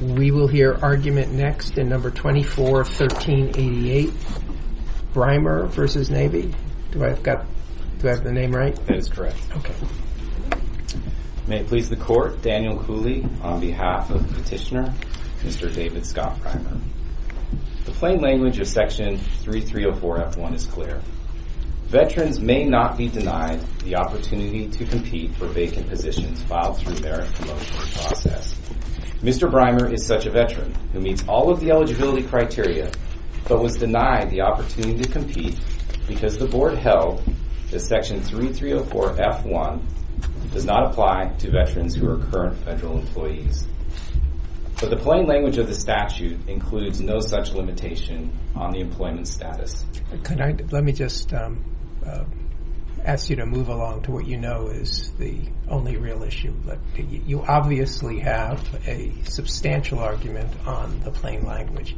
We will hear argument next in No. 24-1388, Brimer v. Navy. Do I have the name right? That is correct. Okay. May it please the Court, Daniel Cooley on behalf of the petitioner, Mr. David Scott Brimer. The plain language of Section 3304F1 is clear. Veterans may not be denied the opportunity to compete for vacant positions filed through their promotion process. Mr. Brimer is such a veteran who meets all of the eligibility criteria but was denied the opportunity to compete because the Board held that Section 3304F1 does not apply to veterans who are current federal employees. But the plain language of the statute includes no such limitation on the employment status. Let me just ask you to move along to what you know is the only real issue. You obviously have a substantial argument on the plain language.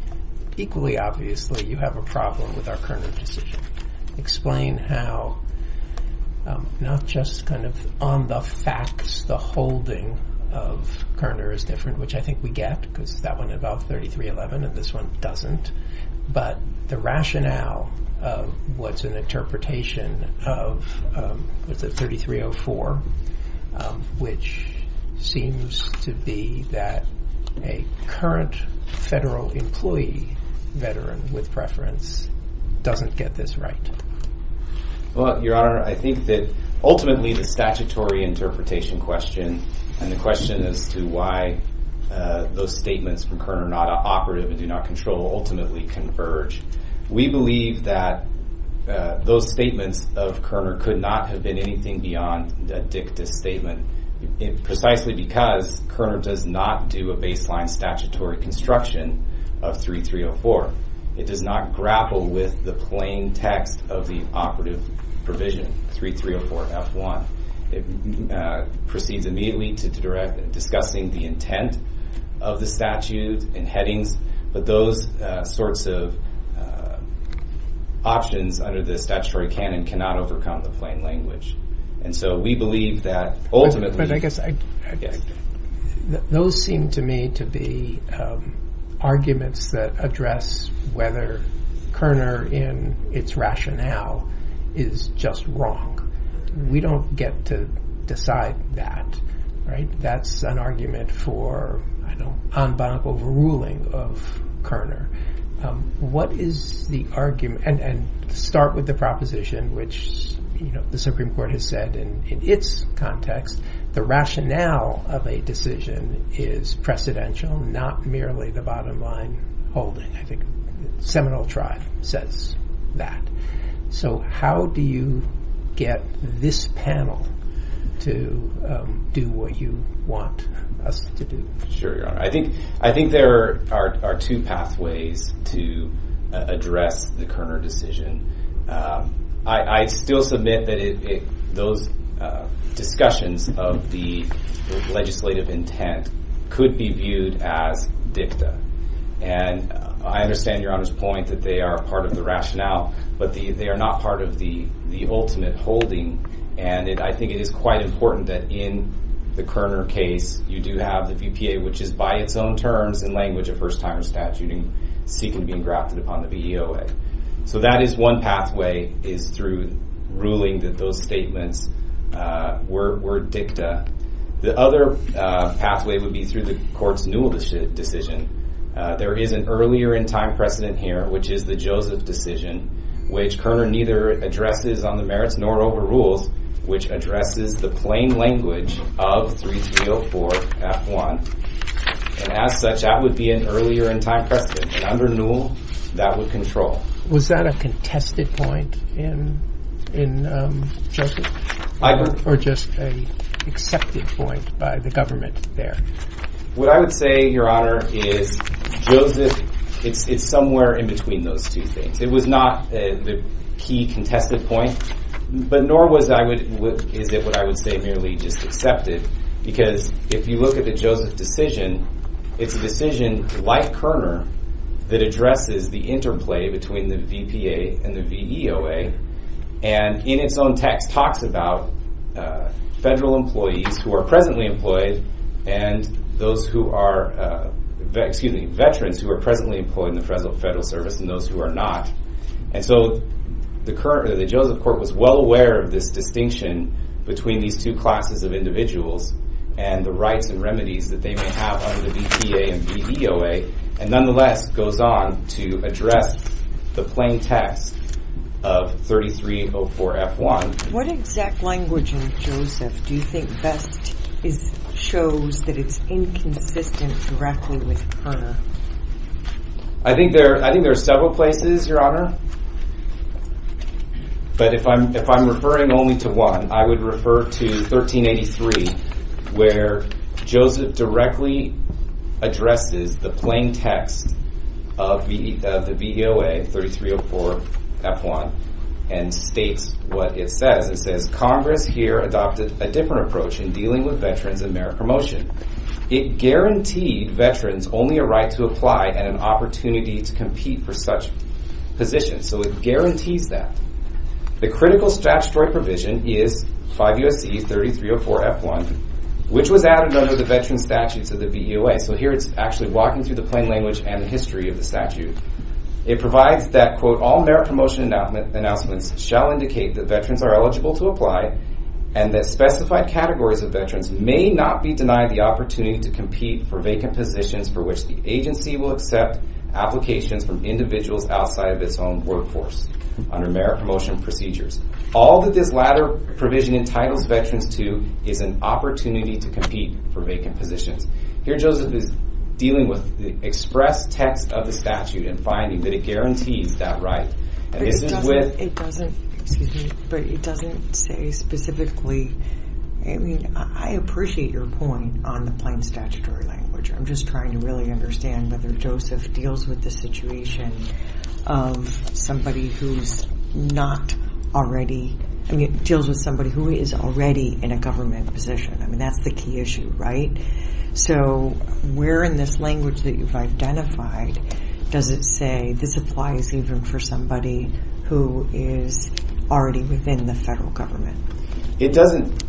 Equally obviously, you have a problem with our Kerner decision. Explain how, not just kind of on the facts, the holding of Kerner is different, which I think we get, because that one involved 3311 and this one doesn't, but the rationale of what's an interpretation of the 3304, which seems to be that a current federal employee veteran with preference doesn't get this right. Well, Your Honor, I think that ultimately the statutory interpretation question and the question as to why those statements from Kerner are not operative and do not control ultimately converge, we believe that those statements of Kerner could not have been anything beyond a dictus statement precisely because Kerner does not do a baseline statutory construction of 3304. It does not grapple with the plain text of the operative provision 3304F1. It proceeds immediately to discussing the intent of the statute and headings, but those sorts of options under the statutory canon cannot overcome the plain language. And so we believe that ultimately- But I guess those seem to me to be arguments that address whether Kerner in its rationale is just wrong. We don't get to decide that, right? That's an argument for, I don't know, en banc overruling of Kerner. What is the argument? And start with the proposition, which the Supreme Court has said in its context, the rationale of a decision is precedential, not merely the bottom line holding. I think Seminole Tribe says that. So how do you get this panel to do what you want us to do? Sure, Your Honor. I think there are two pathways to address the Kerner decision. I still submit that those discussions of the legislative intent could be viewed as dicta. And I understand Your Honor's point that they are part of the rationale, but they are not part of the ultimate holding. And I think it is quite important that in the Kerner case, you do have the VPA, which is by its own terms, in language of first-timer statute, seeking to be engrafted upon the VEOA. So that is one pathway, is through ruling that those statements were dicta. The other pathway would be through the court's Newell decision. There is an earlier-in-time precedent here, which is the Joseph decision, which Kerner neither addresses on the merits nor overrules, which addresses the plain language of 3304-F1. And as such, that would be an earlier-in-time precedent. And under Newell, that would control. Was that a contested point in Joseph? I heard. Or just an accepted point by the government there? What I would say, Your Honor, is Joseph is somewhere in between those two things. It was not the key contested point, but nor is it what I would say merely just accepted, because if you look at the Joseph decision, it's a decision like Kerner that addresses the interplay between the VPA and the VEOA and in its own text talks about federal employees who are presently employed and veterans who are presently employed in the federal service and those who are not. And so the Joseph court was well aware of this distinction between these two classes of individuals and the rights and remedies that they may have under the VPA and VEOA, and nonetheless goes on to address the plain text of 3304-F1. What exact language in Joseph do you think best shows that it's inconsistent directly with Kerner? I think there are several places, Your Honor, but if I'm referring only to one, I would refer to 1383 where Joseph directly addresses the plain text of the VEOA 3304-F1 and states what it says. It says, Congress here adopted a different approach in dealing with veterans and merit promotion. It guaranteed veterans only a right to apply and an opportunity to compete for such positions. So it guarantees that. The critical statutory provision is 5 U.S.C. 3304-F1, which was added under the veteran statutes of the VEOA. So here it's actually walking through the plain language and the history of the statute. It provides that, quote, all merit promotion announcements shall indicate that veterans are eligible to apply and that specified categories of veterans may not be denied the opportunity to compete for vacant positions for which the agency will accept applications from individuals outside of its own workforce under merit promotion procedures. All that this latter provision entitles veterans to is an opportunity to compete for vacant positions. Here Joseph is dealing with the express text of the statute and finding that it guarantees that right. But it doesn't say specifically, I mean, I appreciate your point on the plain statutory language. I'm just trying to really understand whether Joseph deals with the situation of somebody who's not already, I mean, deals with somebody who is already in a government position. I mean, that's the key issue, right? So where in this language that you've identified does it say this applies even for somebody who is already within the federal government? It doesn't.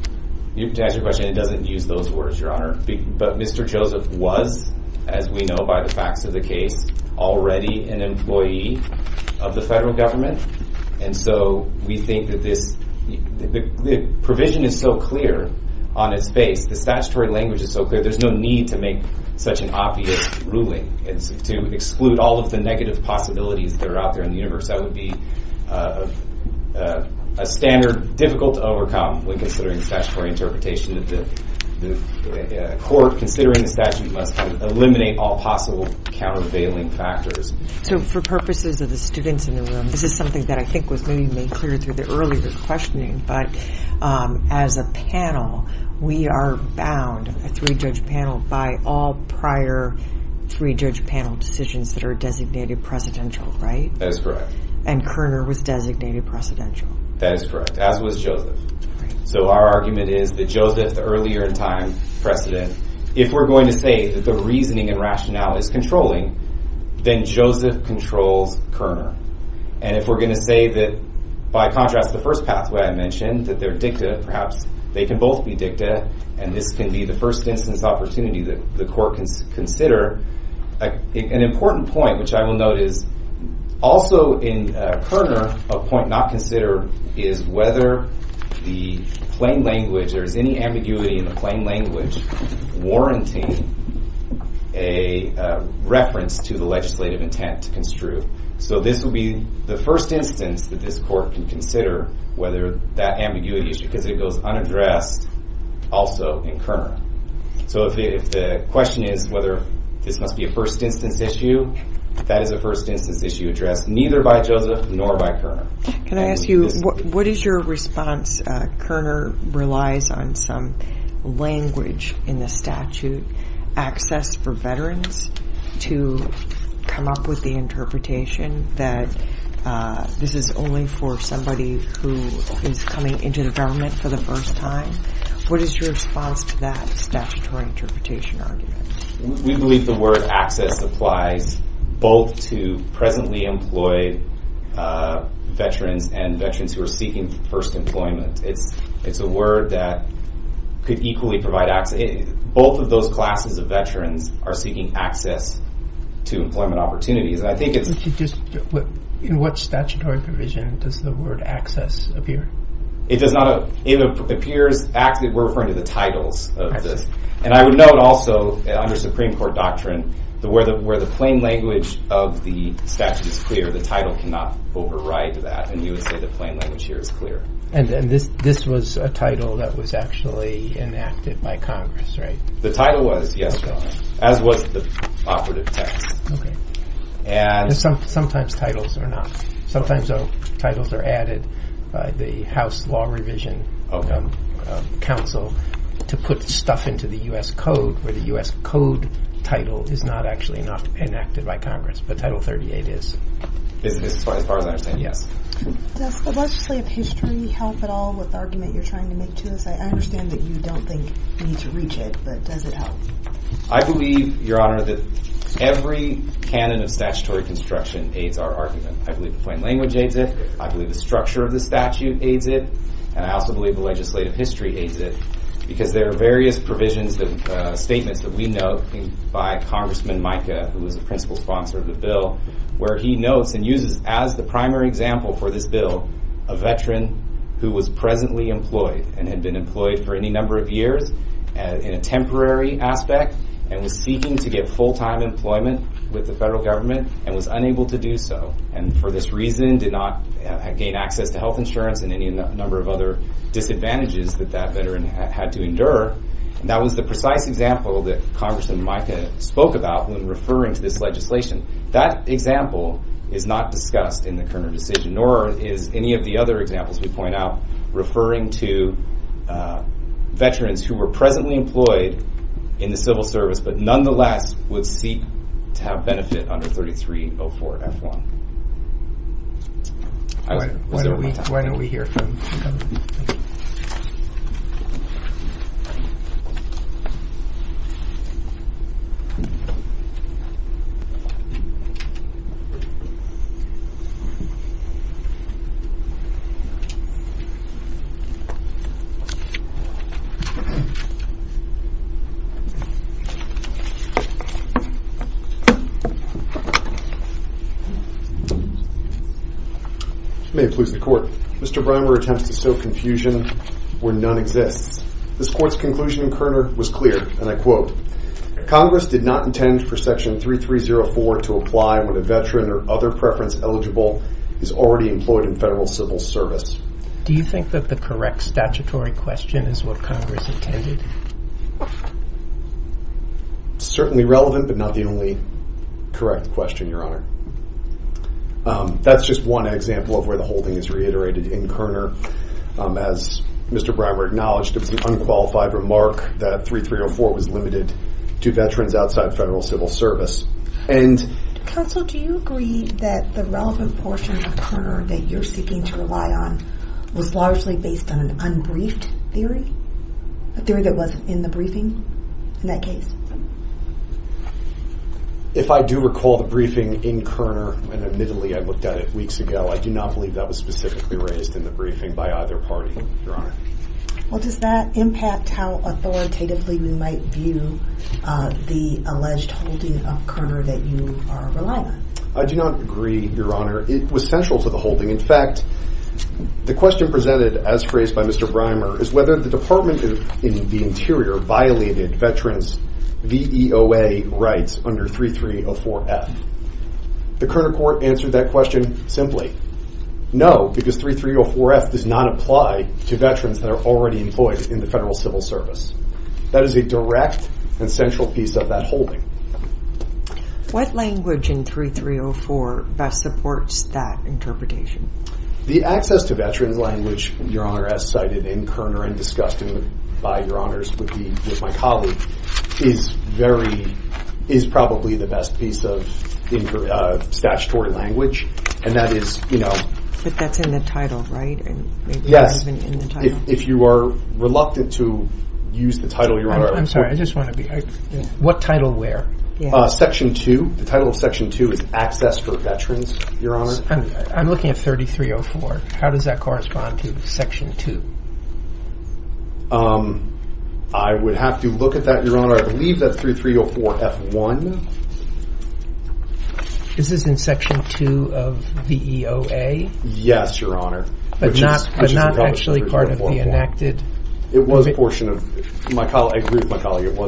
To answer your question, it doesn't use those words, Your Honor. But Mr. Joseph was, as we know by the facts of the case, already an employee of the federal government. And so we think that this provision is so clear on its face, the statutory language is so clear, there's no need to make such an obvious ruling to exclude all of the negative possibilities that are out there in the universe. That would be a standard difficult to overcome when considering statutory interpretation. The court, considering the statute, must eliminate all possible countervailing factors. So for purposes of the students in the room, this is something that I think was maybe made clear through the earlier questioning. But as a panel, we are bound, a three-judge panel, by all prior three-judge panel decisions that are designated presidential, right? That is correct. And Kerner was designated presidential. That is correct, as was Joseph. So our argument is that Joseph, the earlier in time precedent, if we're going to say that the reasoning and rationale is controlling, then Joseph controls Kerner. And if we're going to say that, by contrast to the first pathway I mentioned, that they're dicta, perhaps they can both be dicta, and this can be the first instance opportunity that the court can consider. An important point, which I will note, is also in Kerner, a point not considered, is whether there is any ambiguity in the plain language warranting a reference to the legislative intent to construe. So this will be the first instance that this court can consider whether that ambiguity issue, because it goes unaddressed, also in Kerner. So if the question is whether this must be a first instance issue, that is a first instance issue addressed neither by Joseph nor by Kerner. Can I ask you, what is your response? Kerner relies on some language in the statute, access for veterans, to come up with the interpretation that this is only for somebody who is coming into the government for the first time. What is your response to that statutory interpretation argument? We believe the word access applies both to presently employed veterans and veterans who are seeking first employment. It's a word that could equally provide access. Both of those classes of veterans are seeking access to employment opportunities. In what statutory provision does the word access appear? It appears, we're referring to the titles of this. And I would note also, under Supreme Court doctrine, where the plain language of the statute is clear, the title cannot override that. And you would say the plain language here is clear. And this was a title that was actually enacted by Congress, right? The title was, yes, as was the operative text. Sometimes titles are not. Sometimes titles are added by the House Law Revision Council to put stuff into the U.S. Code, where the U.S. Code title is not actually enacted by Congress, but Title 38 is. As far as I understand, yes. Does the legislative history help at all with the argument you're trying to make to this? I understand that you don't think you need to reach it, but does it help? I believe, Your Honor, that every canon of statutory construction aids our argument. I believe the plain language aids it. I believe the structure of the statute aids it. And I also believe the legislative history aids it. Because there are various provisions and statements that we note by Congressman Mica, who is the principal sponsor of the bill, where he notes and uses as the primary example for this bill a veteran who was presently employed and had been employed for any number of years in a temporary aspect and was seeking to get full-time employment with the federal government and was unable to do so and for this reason did not gain access to health insurance and any number of other disadvantages that that veteran had to endure. That was the precise example that Congressman Mica spoke about when referring to this legislation. That example is not discussed in the Kerner decision, nor is any of the other examples we point out referring to veterans who were presently employed in the civil service but nonetheless would seek to have benefit under 3304F1. Why don't we hear from Congressman Mica? May it please the court. Mr. Brimer attempts to sow confusion where none exists. This court's conclusion in Kerner was clear, and I quote, Congress did not intend for Section 3304 to apply when a veteran or other preference eligible is already employed in federal civil service. Do you think that the correct statutory question is what Congress intended? Certainly relevant, but not the only correct question, Your Honor. That's just one example of where the whole thing is reiterated in Kerner. As Mr. Brimer acknowledged, it was an unqualified remark that 3304 was limited to veterans outside federal civil service. Counsel, do you agree that the relevant portion of Kerner that you're seeking to rely on was largely based on an unbriefed theory? A theory that wasn't in the briefing in that case? If I do recall the briefing in Kerner, and admittedly I looked at it weeks ago, I do not believe that was specifically raised in the briefing by either party, Your Honor. Well, does that impact how authoritatively we might view the alleged holding of Kerner that you are relying on? I do not agree, Your Honor. It was central to the holding. In fact, the question presented as phrased by Mr. Brimer is whether the Department of the Interior violated veterans' VEOA rights under 3304F. The Kerner court answered that question simply, no, because 3304F does not apply to veterans that are already employed in the federal civil service. That is a direct and central piece of that holding. What language in 3304 best supports that interpretation? The access to veterans' language, Your Honor, as cited in Kerner and discussed by Your Honors with my colleague, is probably the best piece of statutory language. But that's in the title, right? Yes. If you are reluctant to use the title, Your Honor. What title where? Section 2. The title of Section 2 is Access for Veterans, Your Honor. I'm looking at 3304. How does that correspond to Section 2? I would have to look at that, Your Honor. I believe that's 3304F1. Is this in Section 2 of VEOA? Yes, Your Honor. But not actually part of the enacted? I agree with my colleague. It was a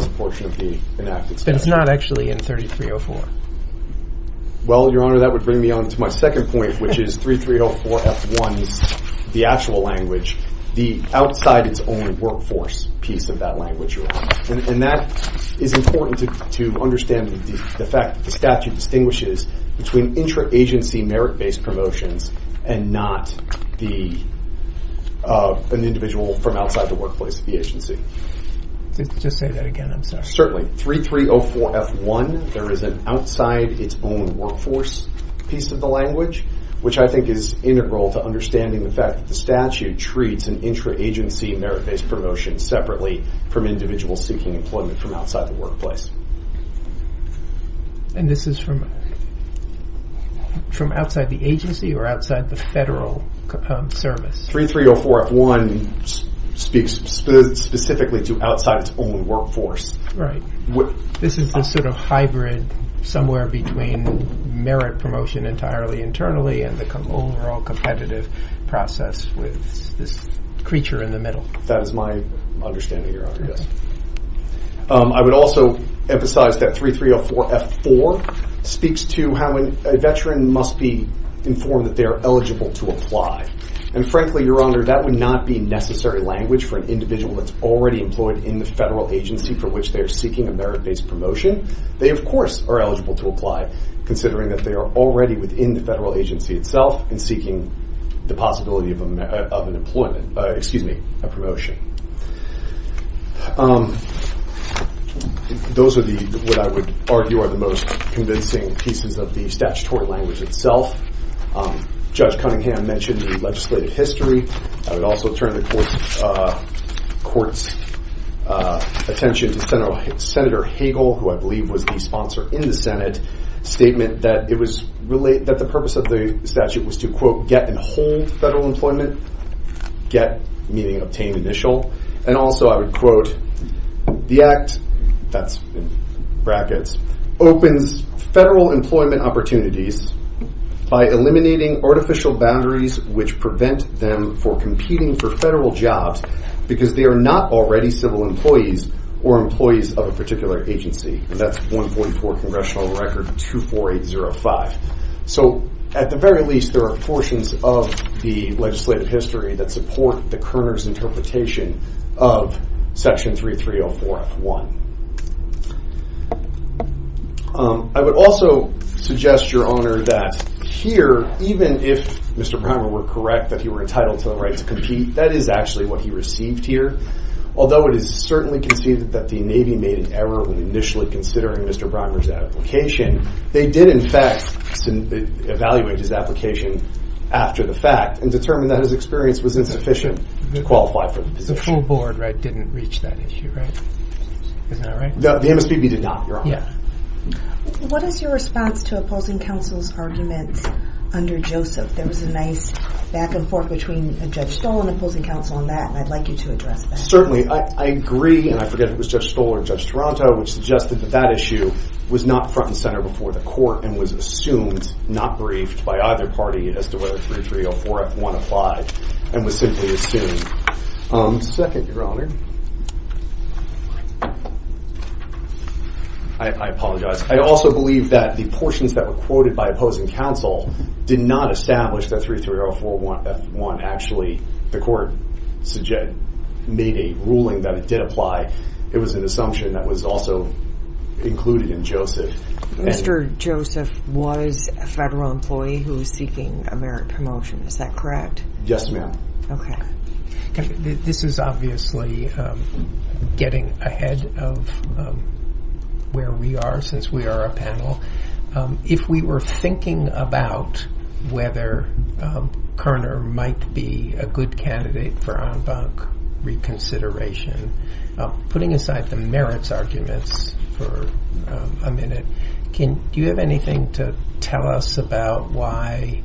portion of the enacted statute. But it's not actually in 3304. Well, Your Honor, that would bring me on to my second point, which is 3304F1, the actual language, the outside-its-own-workforce piece of that language, Your Honor. And that is important to understand the fact that the statute distinguishes between intra-agency merit-based promotions and not an individual from outside the workplace of the agency. Just say that again, I'm sorry. Certainly. 3304F1, there is an outside-its-own-workforce piece of the language, which I think is integral to understanding the fact that the statute treats an intra-agency merit-based promotion separately from individuals seeking employment from outside the workplace. And this is from outside the agency or outside the federal service? 3304F1 speaks specifically to outside-its-own-workforce. Right. This is the sort of hybrid somewhere between merit promotion entirely internally and the overall competitive process with this creature in the middle. That is my understanding, Your Honor, yes. I would also emphasize that 3304F4 speaks to how a veteran must be informed that they are eligible to apply. And frankly, Your Honor, that would not be necessary language for an individual that's already employed in the federal agency for which they are seeking a merit-based promotion. They, of course, are eligible to apply, considering that they are already within the federal agency itself and seeking the possibility of an employment-excuse me, a promotion. Those are what I would argue are the most convincing pieces of the statutory language itself. Judge Cunningham mentioned the legislative history. I would also turn the Court's attention to Senator Hagel, who I believe was the sponsor in the Senate, statement that the purpose of the statute was to, quote, get and hold federal employment, get meaning obtain, initial. And also I would quote, the Act, that's in brackets, opens federal employment opportunities by eliminating artificial boundaries which prevent them from competing for federal jobs because they are not already civil employees or employees of a particular agency. And that's 1.4 Congressional Record 24805. So at the very least, there are portions of the legislative history that support the Kerner's interpretation of Section 3304F1. I would also suggest, Your Honor, that here, even if Mr. Primer were correct that he were entitled to the right to compete, that is actually what he received here. Although it is certainly conceded that the Navy made an error when initially considering Mr. Primer's application, they did, in fact, evaluate his application after the fact and determined that his experience was insufficient to qualify for the position. The full board, right, didn't reach that issue, right? Is that right? No, the MSPB did not, Your Honor. What is your response to opposing counsel's arguments under Joseph? There was a nice back and forth between Judge Stoll and opposing counsel on that, and I'd like you to address that. Certainly, I agree, and I forget if it was Judge Stoll or Judge Toronto, which suggested that that issue was not front and center before the court and was assumed, not briefed by either party as to whether 3304F1 applied and was simply assumed. Second, Your Honor. I apologize. I also believe that the portions that were quoted by opposing counsel did not establish that 3304F1 actually, the court made a ruling that it did apply. It was an assumption that was also included in Joseph. Mr. Joseph was a federal employee who was seeking a merit promotion. Is that correct? Yes, ma'am. Okay. This is obviously getting ahead of where we are since we are a panel. If we were thinking about whether Kerner might be a good candidate for en banc reconsideration, putting aside the merits arguments for a minute, do you have anything to tell us about why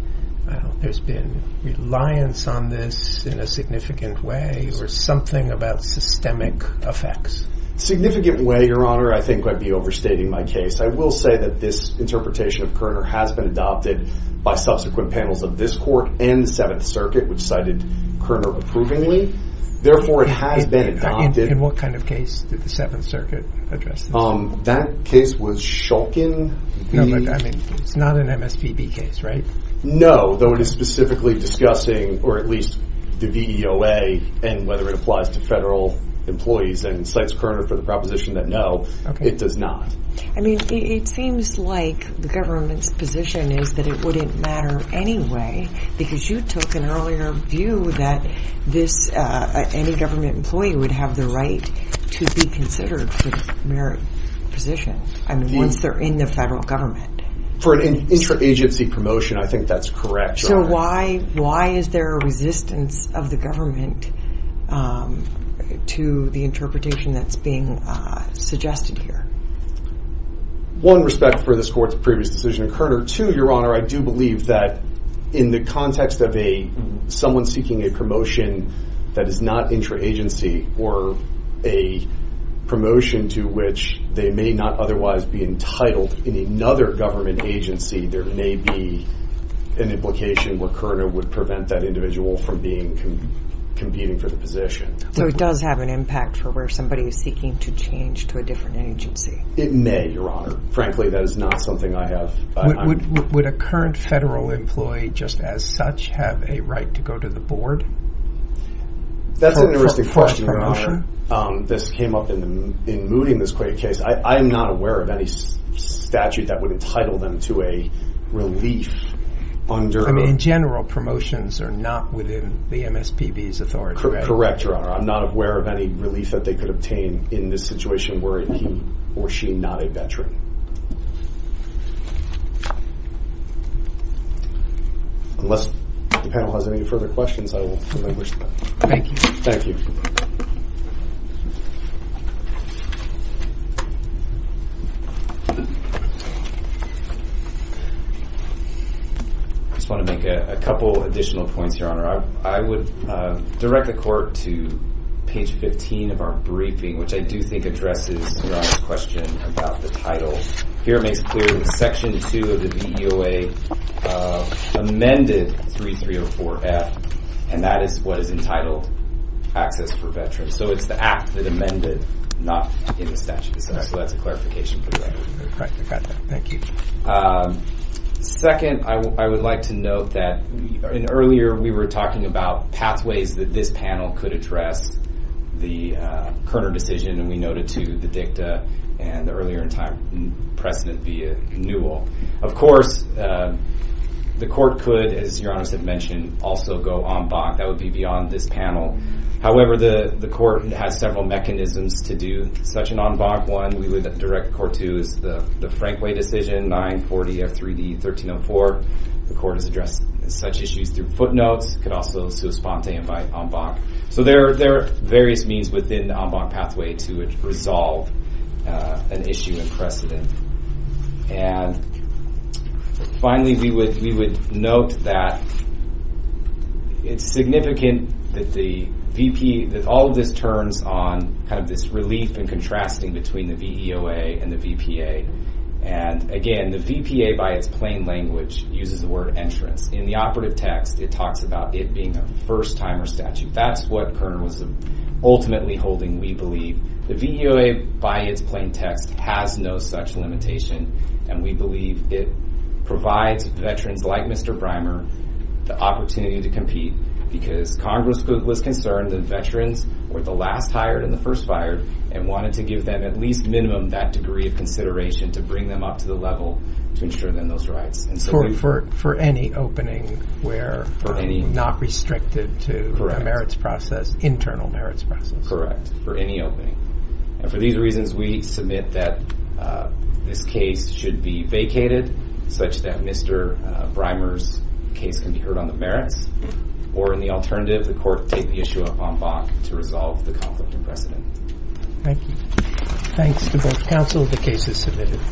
there's been reliance on this in a significant way or something about systemic effects? Significant way, Your Honor, I think I'd be overstating my case. I will say that this interpretation of Kerner has been adopted by subsequent panels of this court and the Seventh Circuit, which cited Kerner approvingly. Therefore, it has been adopted. In what kind of case did the Seventh Circuit address this? That case was Shulkin v. It's not an MSPB case, right? No, though it is specifically discussing, or at least the VEOA and whether it applies to federal employees and cites Kerner for the proposition that no, it does not. I mean, it seems like the government's position is that it wouldn't matter anyway because you took an earlier view that any government employee would have the right to be considered for the merit position. I mean, once they're in the federal government. For an interagency promotion, I think that's correct. So why is there a resistance of the government to the interpretation that's being suggested here? One, respect for this court's previous decision on Kerner. Two, Your Honor, I do believe that in the context of someone seeking a promotion that is not interagency or a promotion to which they may not otherwise be entitled in another government agency, there may be an implication where Kerner would prevent that individual from competing for the position. So it does have an impact for where somebody is seeking to change to a different agency. It may, Your Honor. Frankly, that is not something I have. Would a current federal employee just as such have a right to go to the board? That's an interesting question, Your Honor. This came up in mooting this case. I am not aware of any statute that would entitle them to a relief under— I mean, in general, promotions are not within the MSPB's authority. Correct, Your Honor. I'm not aware of any relief that they could obtain in this situation were he or she not a veteran. Unless the panel has any further questions, I will move this. Thank you. Thank you. I just want to make a couple additional points, Your Honor. I would direct the court to page 15 of our briefing, which I do think addresses Your Honor's question about the title. Here it makes clear that Section 2 of the VEOA amended 3304F, and that is what is entitled access for veterans. So it's the act that amended, not in the statute. So that's a clarification for you. Thank you. Second, I would like to note that earlier we were talking about pathways that this panel could address the Kerner decision, and we noted, too, the dicta and the earlier in time precedent via Newell. Of course, the court could, as Your Honor has mentioned, also go en banc. That would be beyond this panel. However, the court has several mechanisms to do such an en banc. One, we would direct court to is the Frankway decision, 940F3D1304. The court has addressed such issues through footnotes. It could also respond to en banc. So there are various means within the en banc pathway to resolve an issue in precedent. And finally, we would note that it's significant that all of this turns on kind of this relief and contrasting between the VEOA and the VPA. And again, the VPA, by its plain language, uses the word entrance. In the operative text, it talks about it being a first-timer statute. That's what Kerner was ultimately holding, we believe. The VEOA, by its plain text, has no such limitation. And we believe it provides veterans like Mr. Brimer the opportunity to compete because Congress was concerned that veterans were the last hired and the first fired and wanted to give them at least minimum that degree of consideration to bring them up to the level to ensure them those rights. For any opening where not restricted to a merits process, internal merits process. It is correct for any opening. And for these reasons, we submit that this case should be vacated such that Mr. Brimer's case can be heard on the merits. Or in the alternative, the court take the issue up en banc to resolve the conflict in precedent. Thank you. Thanks to both counsel. The case is submitted.